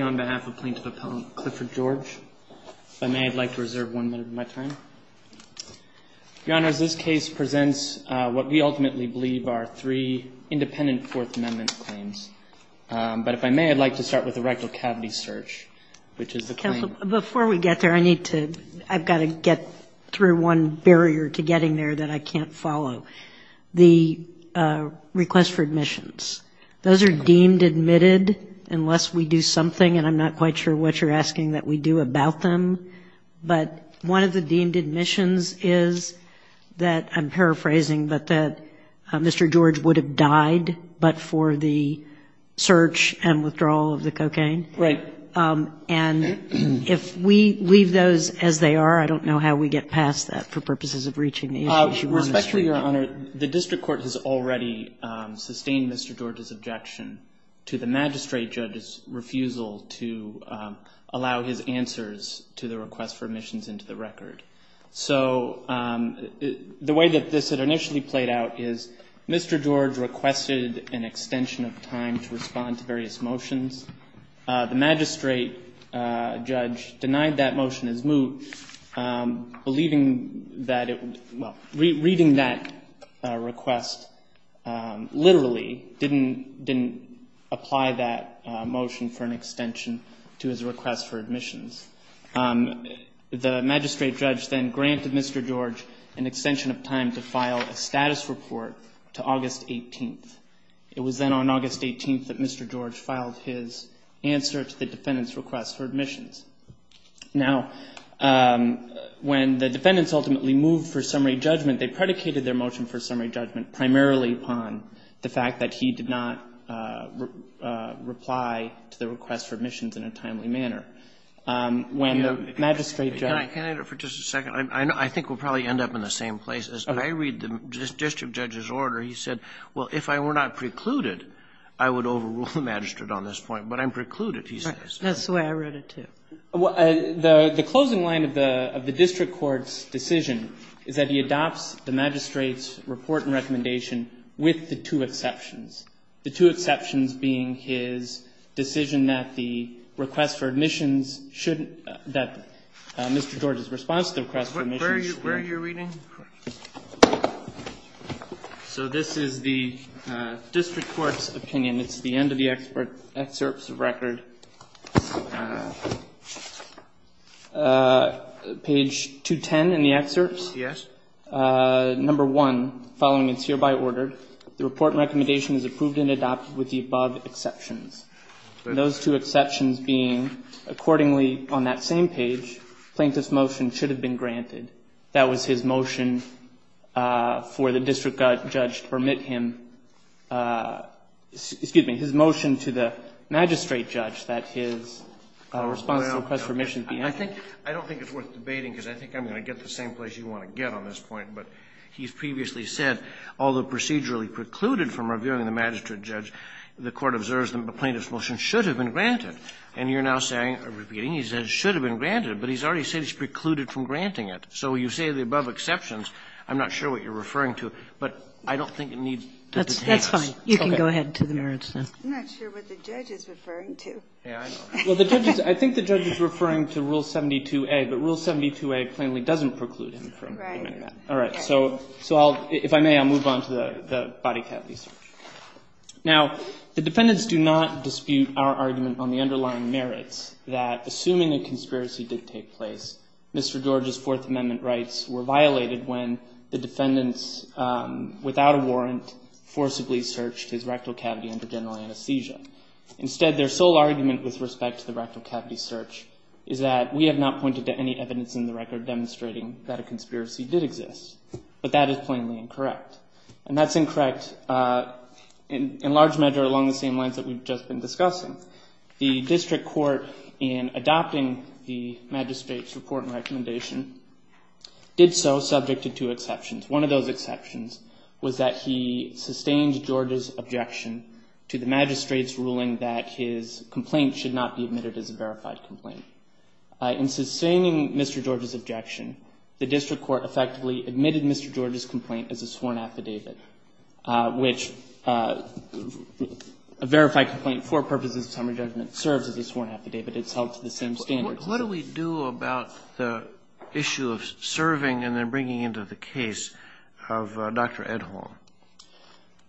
on behalf of plaintiff appellant Clifford George. If I may I'd like to reserve one minute of my time. Your Honor, as this case presents what we ultimately believe are three independent Fourth Amendment claims. But if I may I'd like to start with the rectal cavity search, which is the claim. Before we get there I need to, I've got to get through one barrier to getting there that I can't follow. The request for admissions. Those are deemed admitted unless we do something and I'm not quite sure what you're asking that we do about them. But one of the deemed admissions is that, I'm paraphrasing, but that Mr. George would have died but for the search and withdrawal of the cocaine. Right. And if we leave those as they are I don't know how we get past that for purposes of reaching the issues you want us to. Respectfully, Your Honor, the district court has already sustained Mr. George's objection to the magistrate judge's refusal to allow his answers to the request for admissions into the record. So the way that this had initially played out is Mr. George requested an extension of time to respond to various motions. The magistrate judge denied that motion as moot, believing that it, well, reading that request literally didn't apply that motion for an extension to his request for admissions. The magistrate judge then granted Mr. George an extension of time to file a status report to August 18th. It was then on August 18th that Mr. George filed his answer to the defendant's request for admissions. Now, when the defendants ultimately moved for summary judgment, they predicated their motion for summary judgment primarily upon the fact that he did not reply to the request for admissions in a timely manner. When the magistrate judge ---- Kennedy, for just a second. I think we'll probably end up in the same places. But I read the district judge's order. He said, well, if I were not precluded, I would overrule the magistrate on this point, but I'm precluded, he says. That's the way I read it, too. The closing line of the district court's decision is that he adopts the magistrate's report and recommendation with the two exceptions. The two exceptions being his decision that the request for admissions shouldn't ---- that Mr. George's response to the request for admissions shouldn't ---- Where are you reading? So this is the district court's opinion. It's the end of the excerpts of record. Page 210 in the excerpts? Yes. Number 1, following its hereby order, the report and recommendation is approved and adopted with the above exceptions. Those two exceptions being, accordingly, on that same page, plaintiff's motion should have been granted. That was his motion for the district judge to permit him ---- excuse me, his motion to the magistrate judge that his response to the request for admissions be ---- I don't think it's worth debating, because I think I'm going to get the same place you want to get on this point. But he's previously said, although procedurally precluded from reviewing the magistrate judge, the Court observes the plaintiff's motion should have been granted. And you're now saying, repeating, he says should have been granted, but he's already said it's precluded from granting it. So you say the above exceptions. I'm not sure what you're referring to, but I don't think it needs to be debated. That's fine. You can go ahead to the merits now. I'm not sure what the judge is referring to. Well, the judge is ---- I think the judge is referring to Rule 72a, but Rule 72a plainly doesn't preclude him from doing that. Right. All right. So I'll ---- if I may, I'll move on to the bodycat research. Now, the defendants do not dispute our argument on the underlying merits that assuming a conspiracy did take place, Mr. George's Fourth Amendment rights were violated when the defendants, without a warrant, forcibly searched his rectal cavity under general anesthesia. Instead, their sole argument with respect to the rectal cavity search is that we have not pointed to any evidence in the record demonstrating that a conspiracy did exist. But that is plainly incorrect. And that's incorrect in large measure along the same lines that we've just been discussing. The district court, in adopting the magistrate's report and recommendation, did so subject to two exceptions. One of those exceptions was that he sustained George's objection to the magistrate's ruling that his complaint should not be admitted as a verified complaint. In sustaining Mr. George's objection, the district court effectively admitted Mr. George's complaint as a sworn affidavit, which a verified complaint for purposes of summary judgment serves as a sworn affidavit. It's held to the same standards. What do we do about the issue of serving and then bringing into the case of Dr. Edholm?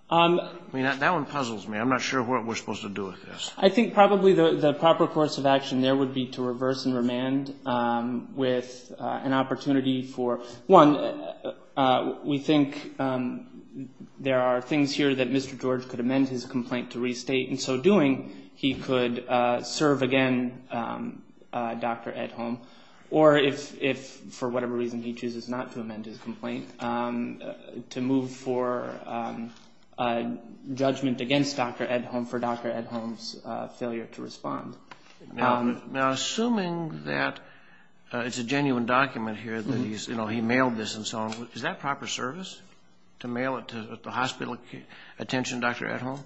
I mean, that one puzzles me. I'm not sure what we're supposed to do with this. I think probably the proper course of action there would be to reverse and remand with an opportunity for, one, we think there are things here that Mr. George could amend his complaint to restate. In so doing, he could serve again Dr. Edholm, or if, for whatever reason, he chooses not to amend his complaint, to move for judgment against Dr. Edholm for Dr. Edholm's failure to respond. Now, assuming that it's a genuine document here, that he's, you know, he mailed this and so on, is that proper service, to mail it to the hospital attention, Dr. Edholm?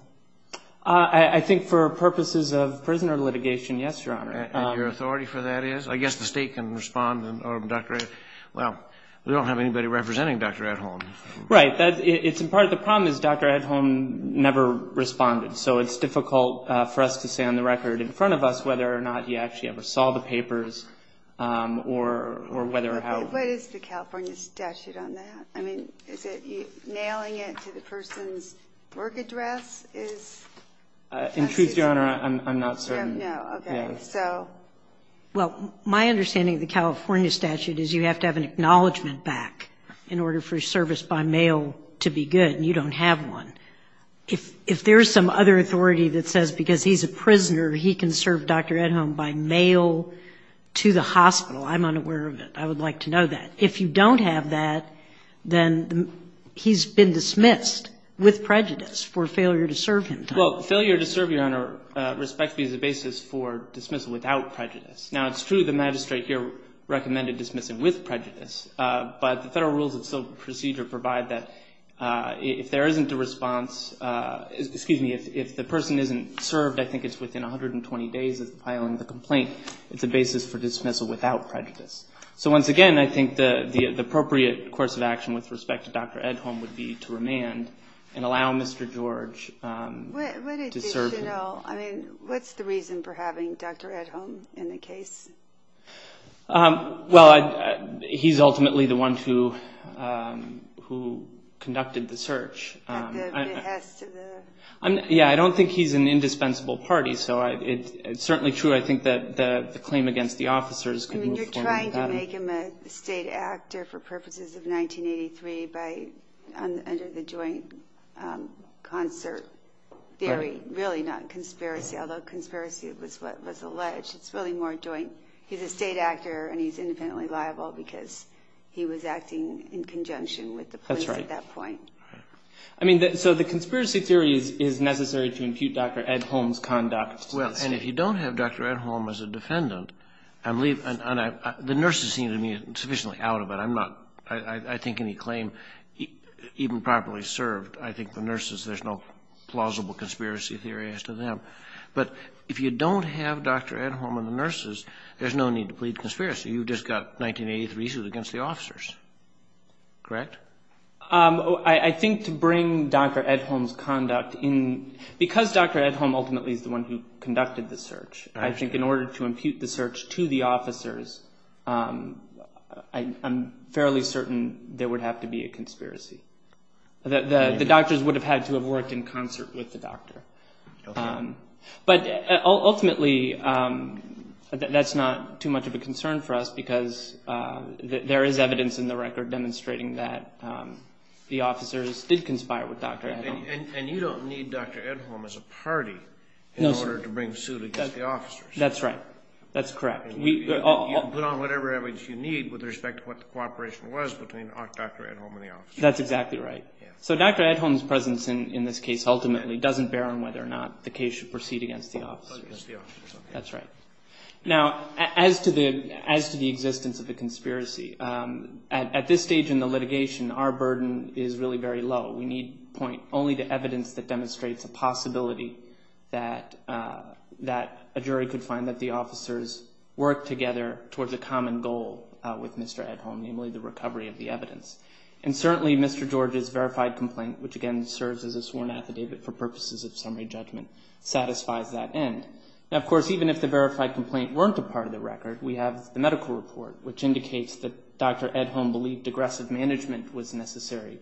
I think for purposes of prisoner litigation, yes, Your Honor. And your authority for that is? I guess the State can respond to Dr. Edholm. Well, we don't have anybody representing Dr. Edholm. Right. Part of the problem is Dr. Edholm never responded, so it's difficult for us to say on the bus whether or not he actually ever saw the papers or whether or how. What is the California statute on that? I mean, is it nailing it to the person's work address is? In truth, Your Honor, I'm not certain. No, okay. So. Well, my understanding of the California statute is you have to have an acknowledgement back in order for service by mail to be good, and you don't have one. If there is some other authority that says because he's a prisoner he can serve Dr. Edholm by mail to the hospital, I'm unaware of it. I would like to know that. If you don't have that, then he's been dismissed with prejudice for failure to serve him. Well, failure to serve, Your Honor, respectfully, is a basis for dismissal without prejudice. Now, it's true the magistrate here recommended dismissing with prejudice, but the Federal Rules of Procedure provide that if there isn't a response, excuse me, if the person isn't served, I think it's within 120 days of filing the complaint, it's a basis for dismissal without prejudice. So once again, I think the appropriate course of action with respect to Dr. Edholm would be to remand and allow Mr. George to serve him. What's the reason for having Dr. Edholm in the case? Well, he's ultimately the one who conducted the search. Yeah, I don't think he's an indispensable party, so it's certainly true, I think, that the claim against the officers could move forward with that. You're trying to make him a state actor for purposes of 1983 under the joint concert theory, really not conspiracy, although conspiracy was what was alleged. It's really more joint, he's a state actor and he's independently liable because he was acting in conjunction with the police at that point. I mean, so the conspiracy theory is necessary to impute Dr. Edholm's conduct. Well, and if you don't have Dr. Edholm as a defendant, the nurses seem to be sufficiently out of it. I think any claim, even properly served, I think the nurses, there's no plausible conspiracy theory as to them. But if you don't have Dr. Edholm and the nurses, there's no need to plead conspiracy. You've just got 1983 suit against the officers, correct? I think to bring Dr. Edholm's conduct in, because Dr. Edholm ultimately is the one who conducted the search, I think in order to impute the search to the officers, I'm fairly certain there would have to be a conspiracy. The doctors would have had to have worked in concert with the doctor. But ultimately, that's not too much of a concern for us because there is evidence in the record demonstrating that the officers did conspire with Dr. Edholm. And you don't need Dr. Edholm as a party in order to bring suit against the officers. That's right. That's correct. Put on whatever evidence you need with respect to what the cooperation was between Dr. Edholm and the officers. That's exactly right. So Dr. Edholm's presence in this case ultimately doesn't bear on whether or not the case should proceed against the officers. That's right. Now, as to the existence of the conspiracy, at this stage in the litigation, our burden is really very low. We need point only to evidence that demonstrates a possibility that a jury could find that the officers worked together towards a common goal with Mr. Edholm, namely the recovery of the evidence. And certainly Mr. George's verified complaint, which again serves as a sworn affidavit for purposes of summary judgment, satisfies that end. Now, of course, even if the verified complaint weren't a part of the record, we have the medical report, which indicates that Dr. Edholm believed aggressive management was necessary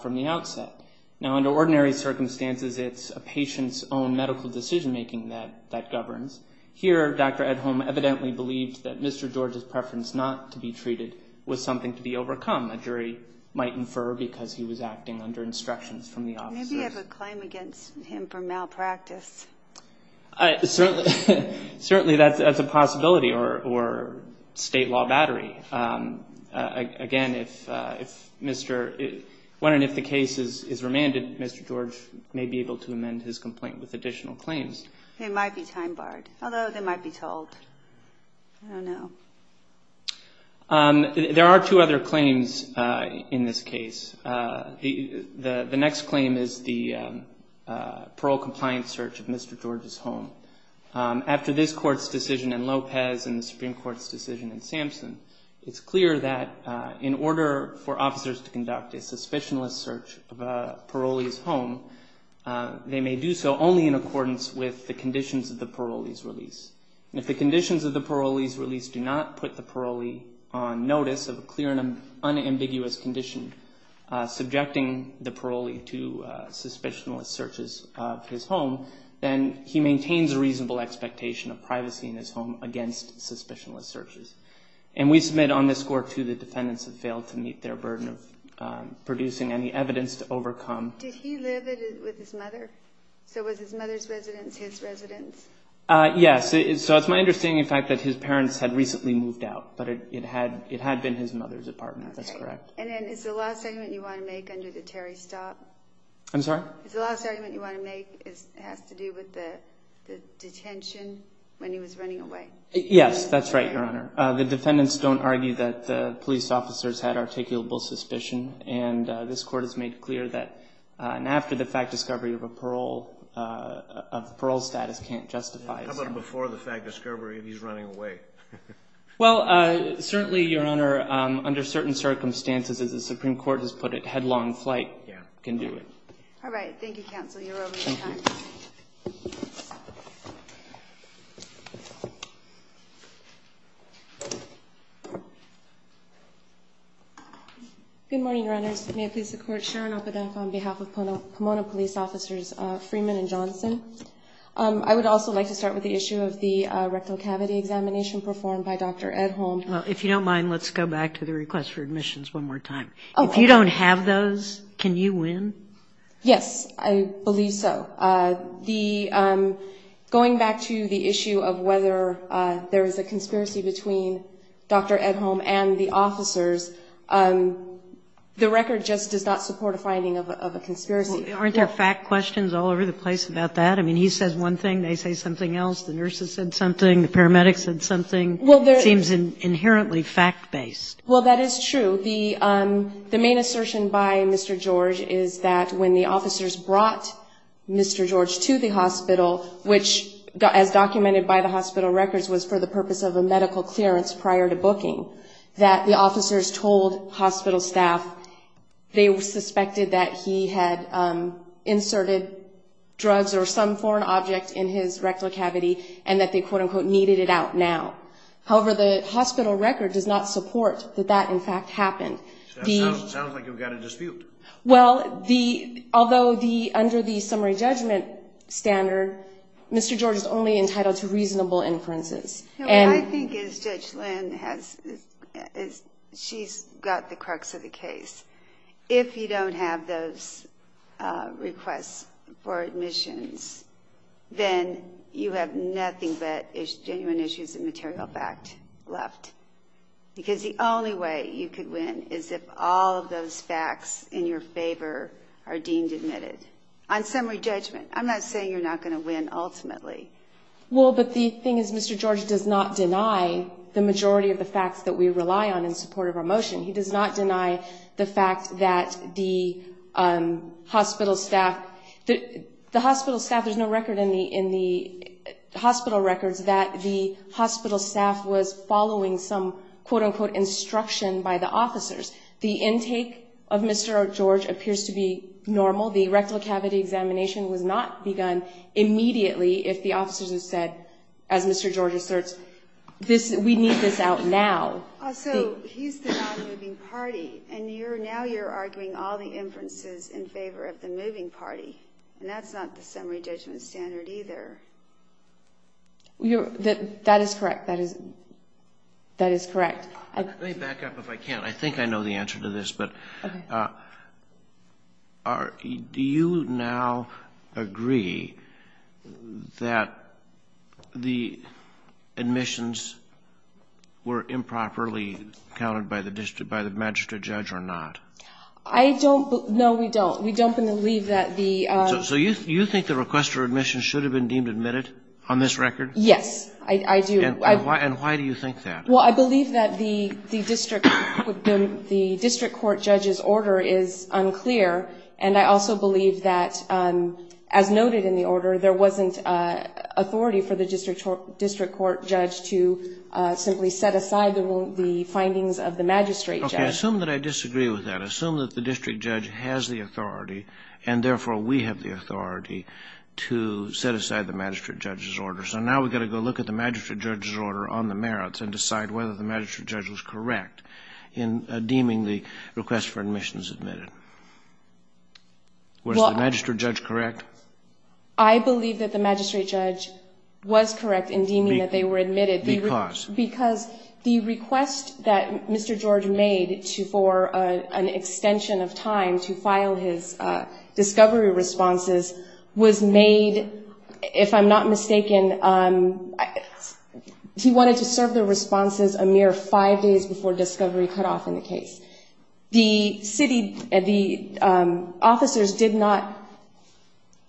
from the outset. Now, under ordinary circumstances, it's a patient's own medical decision-making that governs. Here, Dr. Edholm evidently believed that Mr. George's preference not to be treated was something to be overcome. A jury might infer because he was acting under instructions from the officers. Maybe you have a claim against him for malpractice. Certainly that's a possibility or state law battery. Again, when and if the case is remanded, Mr. George may be able to amend his complaint with additional claims. They might be time-barred, although they might be told. I don't know. There are two other claims in this case. The next claim is the parole compliance search of Mr. George's home. After this Court's decision in Lopez and the Supreme Court's decision in Sampson, it's clear that in order for officers to conduct a suspicionless search of a parolee's home, they may do so only in accordance with the conditions of the parolee's release. And if the conditions of the parolee's release do not put the parolee on notice of a clear and unambiguous condition subjecting the parolee to suspicionless searches of his home, then he maintains a reasonable expectation of privacy in his home against suspicionless searches. And we submit on this Court, too, that defendants have failed to meet their burden of producing any evidence to overcome. Yes. So it's my understanding, in fact, that his parents had recently moved out. But it had been his mother's apartment. That's correct. And then is the last argument you want to make under the Terry stop? I'm sorry? Is the last argument you want to make has to do with the detention when he was running away? Yes, that's right, Your Honor. The defendants don't argue that the police officers had articulable suspicion. And this Court has made clear that an after-the-fact discovery of a parole status can't justify it. How about before-the-fact discovery if he's running away? Well, certainly, Your Honor, under certain circumstances, as the Supreme Court has put it, headlong flight can do it. All right. Thank you, Counsel. You're over your time. Good morning, Runners. May it please the Court, Sharon Opedenko on behalf of Pomona Police Officers Freeman and Johnson. I would also like to start with the issue of the rectal cavity examination performed by Dr. Edholm. Well, if you don't mind, let's go back to the request for admissions one more time. If you don't have those, can you win? Yes, I believe so. Going back to the issue of whether there is a conspiracy between Dr. Edholm and the officers, the record just does not support a finding of a conspiracy. Aren't there fact questions all over the place about that? I mean, he says one thing, they say something else, the nurses said something, the paramedics said something. It seems inherently fact-based. Well, that is true. The main assertion by Mr. George is that when the officers brought Mr. George to the hospital, which, as documented by the hospital records, was for the purpose of a medical clearance prior to booking, that the officers told hospital staff they suspected that he had inserted drugs or some foreign object in his rectal cavity and that they, quote-unquote, needed it out now. However, the hospital record does not support that that, in fact, happened. Sounds like you've got a dispute. Well, although under the summary judgment standard, Mr. George is only entitled to reasonable inferences. I think, as Judge Lynn has, she's got the crux of the case. If you don't have those requests for admissions, then you have nothing but genuine issues of material fact left. Because the only way you could win is if all of those facts in your favor are deemed admitted. On summary judgment, I'm not saying you're not going to win ultimately. Well, but the thing is, Mr. George does not deny the majority of the facts that we rely on in support of our motion. He does not deny the fact that the hospital staff, the hospital staff, there's no record in the hospital records that the hospital staff was following some, quote-unquote, instruction by the officers. The intake of Mr. George appears to be normal. The rectal cavity examination was not begun immediately if the officers had said, as Mr. George asserts, we need this out now. Also, he's the non-moving party, and now you're arguing all the inferences in favor of the moving party. And that's not the summary judgment standard either. That is correct. That is correct. Let me back up if I can. I think I know the answer to this. But do you now agree that the admissions were improperly counted by the magistrate judge or not? I don't. No, we don't. We don't believe that the ---- So you think the request for admission should have been deemed admitted on this record? Yes, I do. And why do you think that? Well, I believe that the district court judge's order is unclear. And I also believe that, as noted in the order, there wasn't authority for the district court judge to simply set aside the findings of the magistrate judge. Okay. Assume that I disagree with that. Assume that the district judge has the authority, and therefore we have the authority, to set aside the magistrate judge's order. So now we've got to go look at the magistrate judge's order on the merits and decide whether the magistrate judge was correct in deeming the request for admission as admitted. Was the magistrate judge correct? I believe that the magistrate judge was correct in deeming that they were admitted. Because? Because the request that Mr. George made for an extension of time to file his discovery responses was made, if I'm not mistaken, he wanted to serve the responses a mere five days before discovery cut off in the case. The city, the officers did not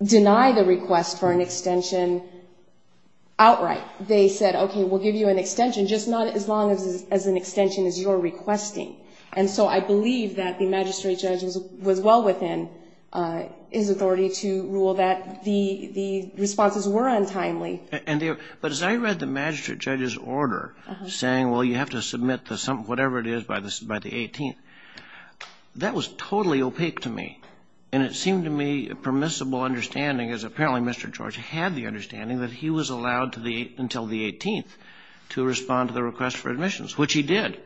deny the request for an extension outright. They said, okay, we'll give you an extension, just not as long as an extension as you're requesting. And so I believe that the magistrate judge was well within his authority to rule that the responses were untimely. But as I read the magistrate judge's order saying, well, you have to submit the whatever it is by the 18th, that was totally opaque to me. And it seemed to me a permissible understanding, as apparently Mr. George had the understanding that he was allowed until the 18th to respond to the request for admissions, which he did.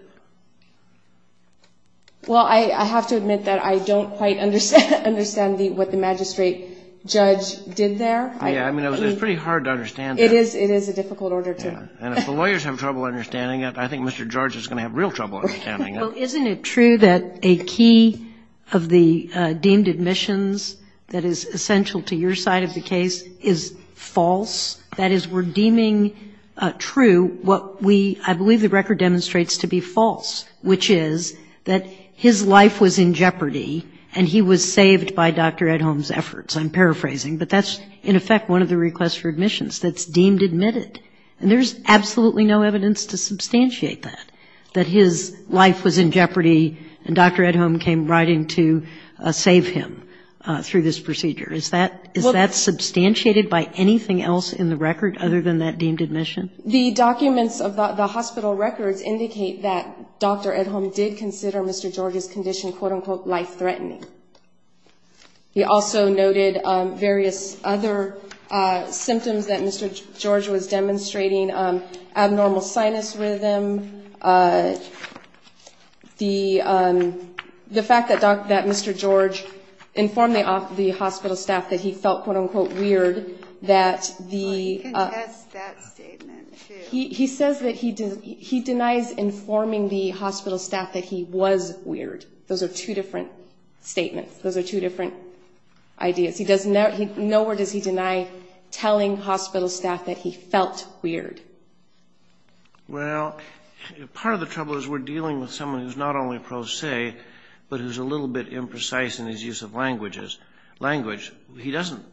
Well, I have to admit that I don't quite understand what the magistrate judge did there. Yeah. I mean, it was pretty hard to understand. It is a difficult order, too. And if the lawyers have trouble understanding it, I think Mr. George is going to have real trouble understanding it. Well, isn't it true that a key of the deemed admissions that is essential to your side of the case is false? That is, we're deeming true what we, I believe the record demonstrates to be false, which is that his life was in jeopardy and he was saved by Dr. Ed Holm's efforts. I'm paraphrasing, but that's in effect one of the requests for admissions that's deemed admitted. And there's absolutely no evidence to substantiate that, that his life was in jeopardy and Dr. Ed Holm came riding to save him through this procedure. Is that substantiated by anything else in the record other than that deemed admission? The documents of the hospital records indicate that Dr. Ed Holm did consider Mr. George's condition, quote, unquote, life-threatening. He also noted various other symptoms that Mr. George was demonstrating, abnormal sinus rhythm, the fact that Mr. George informed the hospital staff that he felt, quote, unquote, weird, that the... I contest that statement, too. He says that he denies informing the hospital staff that he was weird. Those are two different statements. Those are two different ideas. Nowhere does he deny telling hospital staff that he felt weird. Well, part of the trouble is we're dealing with someone who's not only pro se, but who's a little bit imprecise in his use of language. He doesn't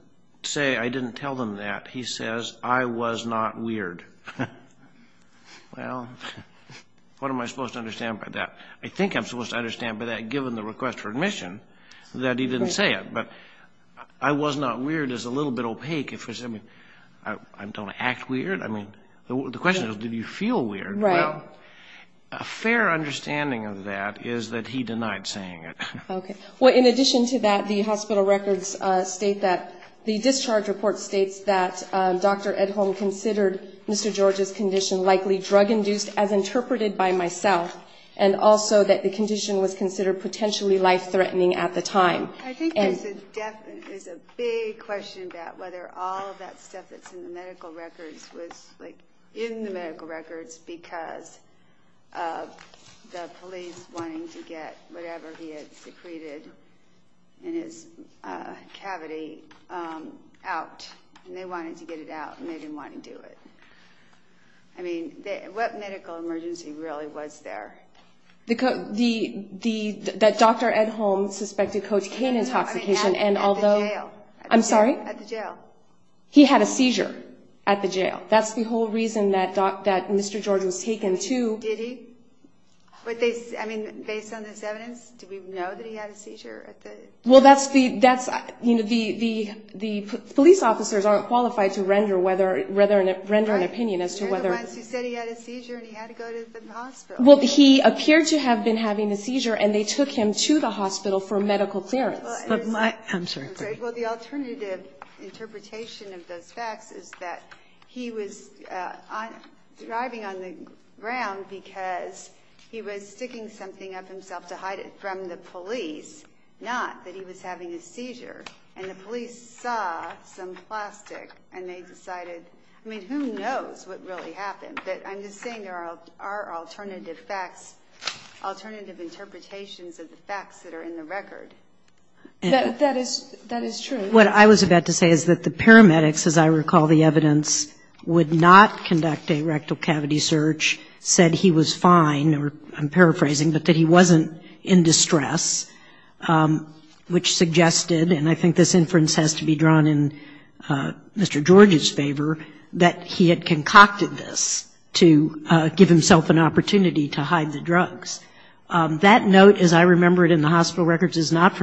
say, I didn't tell them that. He says, I was not weird. Well, what am I supposed to understand by that? I think I'm supposed to understand by that, given the request for admission, that he didn't say it. But I was not weird is a little bit opaque. I don't act weird. I mean, the question is, did you feel weird? Well, a fair understanding of that is that he denied saying it. Well, in addition to that, the hospital records state that the discharge report states that Dr. Edholm considered Mr. George's condition likely drug-induced, as interpreted by myself, and also that the condition was considered potentially life-threatening at the time. I think there's a big question about whether all of that stuff that's in the medical records was in the medical records because of the police wanting to get whatever he had secreted in his cavity out. And they wanted to get it out, and they didn't want to do it. I mean, what medical emergency really was there? That Dr. Edholm suspected cocaine intoxication, and although... At the jail. He had a seizure at the jail. That's the whole reason that Mr. George was taken to... Did he? I mean, based on this evidence, did we know that he had a seizure? Well, that's the... The police officers aren't qualified to render an opinion as to whether... They're the ones who said he had a seizure and he had to go to the hospital. Well, he appeared to have been having a seizure, and they took him to the hospital for medical clearance. I'm sorry. Well, the alternative interpretation of those facts is that he was driving on the ground because he was sticking something up himself to hide it from the police, not that he was having a seizure. And the police saw some plastic, and they decided... I mean, who knows what really happened, but I'm just saying there are alternative facts, right? That is true. What I was about to say is that the paramedics, as I recall the evidence, would not conduct a rectal cavity search, said he was fine, or I'm paraphrasing, but that he wasn't in distress, which suggested, and I think this inference has to be drawn in Mr. George's favor, that he had concocted this to give himself an opportunity not from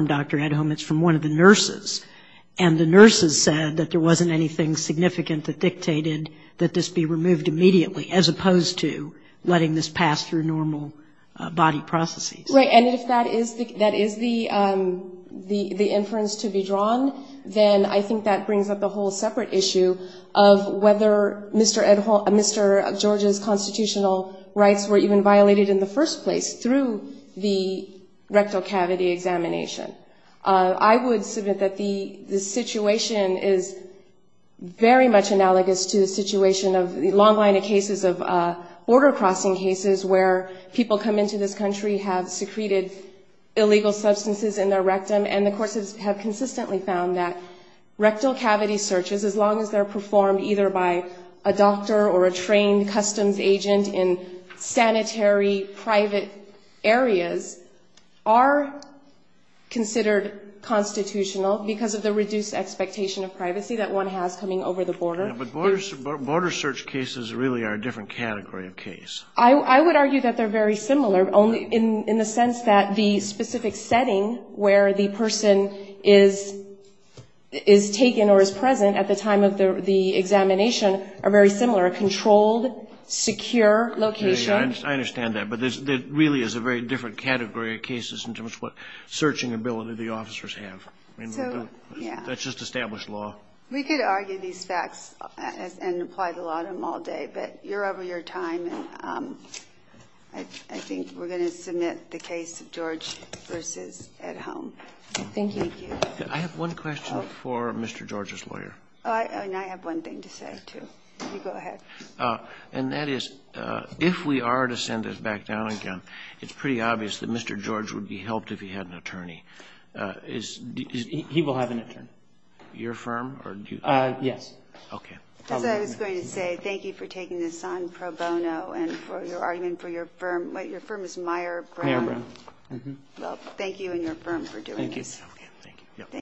Dr. Edholm, it's from one of the nurses, and the nurses said that there wasn't anything significant that dictated that this be removed immediately, as opposed to letting this pass through normal body processes. Right, and if that is the inference to be drawn, then I think that brings up a whole separate issue of whether Mr. George's constitutional rights were even violated in the first place through the rectal cavity examination. I would submit that the situation is very much analogous to the situation of the long line of cases of border crossing cases, where people come into this country, have secreted illegal substances in their rectum, and the courts have consistently found that rectal cavity searches, as long as they're performed either by a doctor or a trained customs agent in sanitary, private areas, are considered constitutional because of the reduced expectation of privacy that one has coming over the border. But border search cases really are a different category of case. I would argue that they're very similar, only in the sense that the specific setting where the person is taken or is present at the time of the examination are very similar, a controlled, secure location. I understand that, but it really is a very different category of cases in terms of what searching ability the officers have. That's just established law. We could argue these facts and apply the law to them all day, but you're over your time, and I think we're going to submit the case of George versus at home. I have one question for Mr. George's lawyer. I have one thing to say, too. If we are to send this back down again, it's pretty obvious that Mr. George would be helped if he had an attorney. He will have an attorney. As I was going to say, thank you for taking this on pro bono and for your argument for your firm. Your firm is Meyer Brown.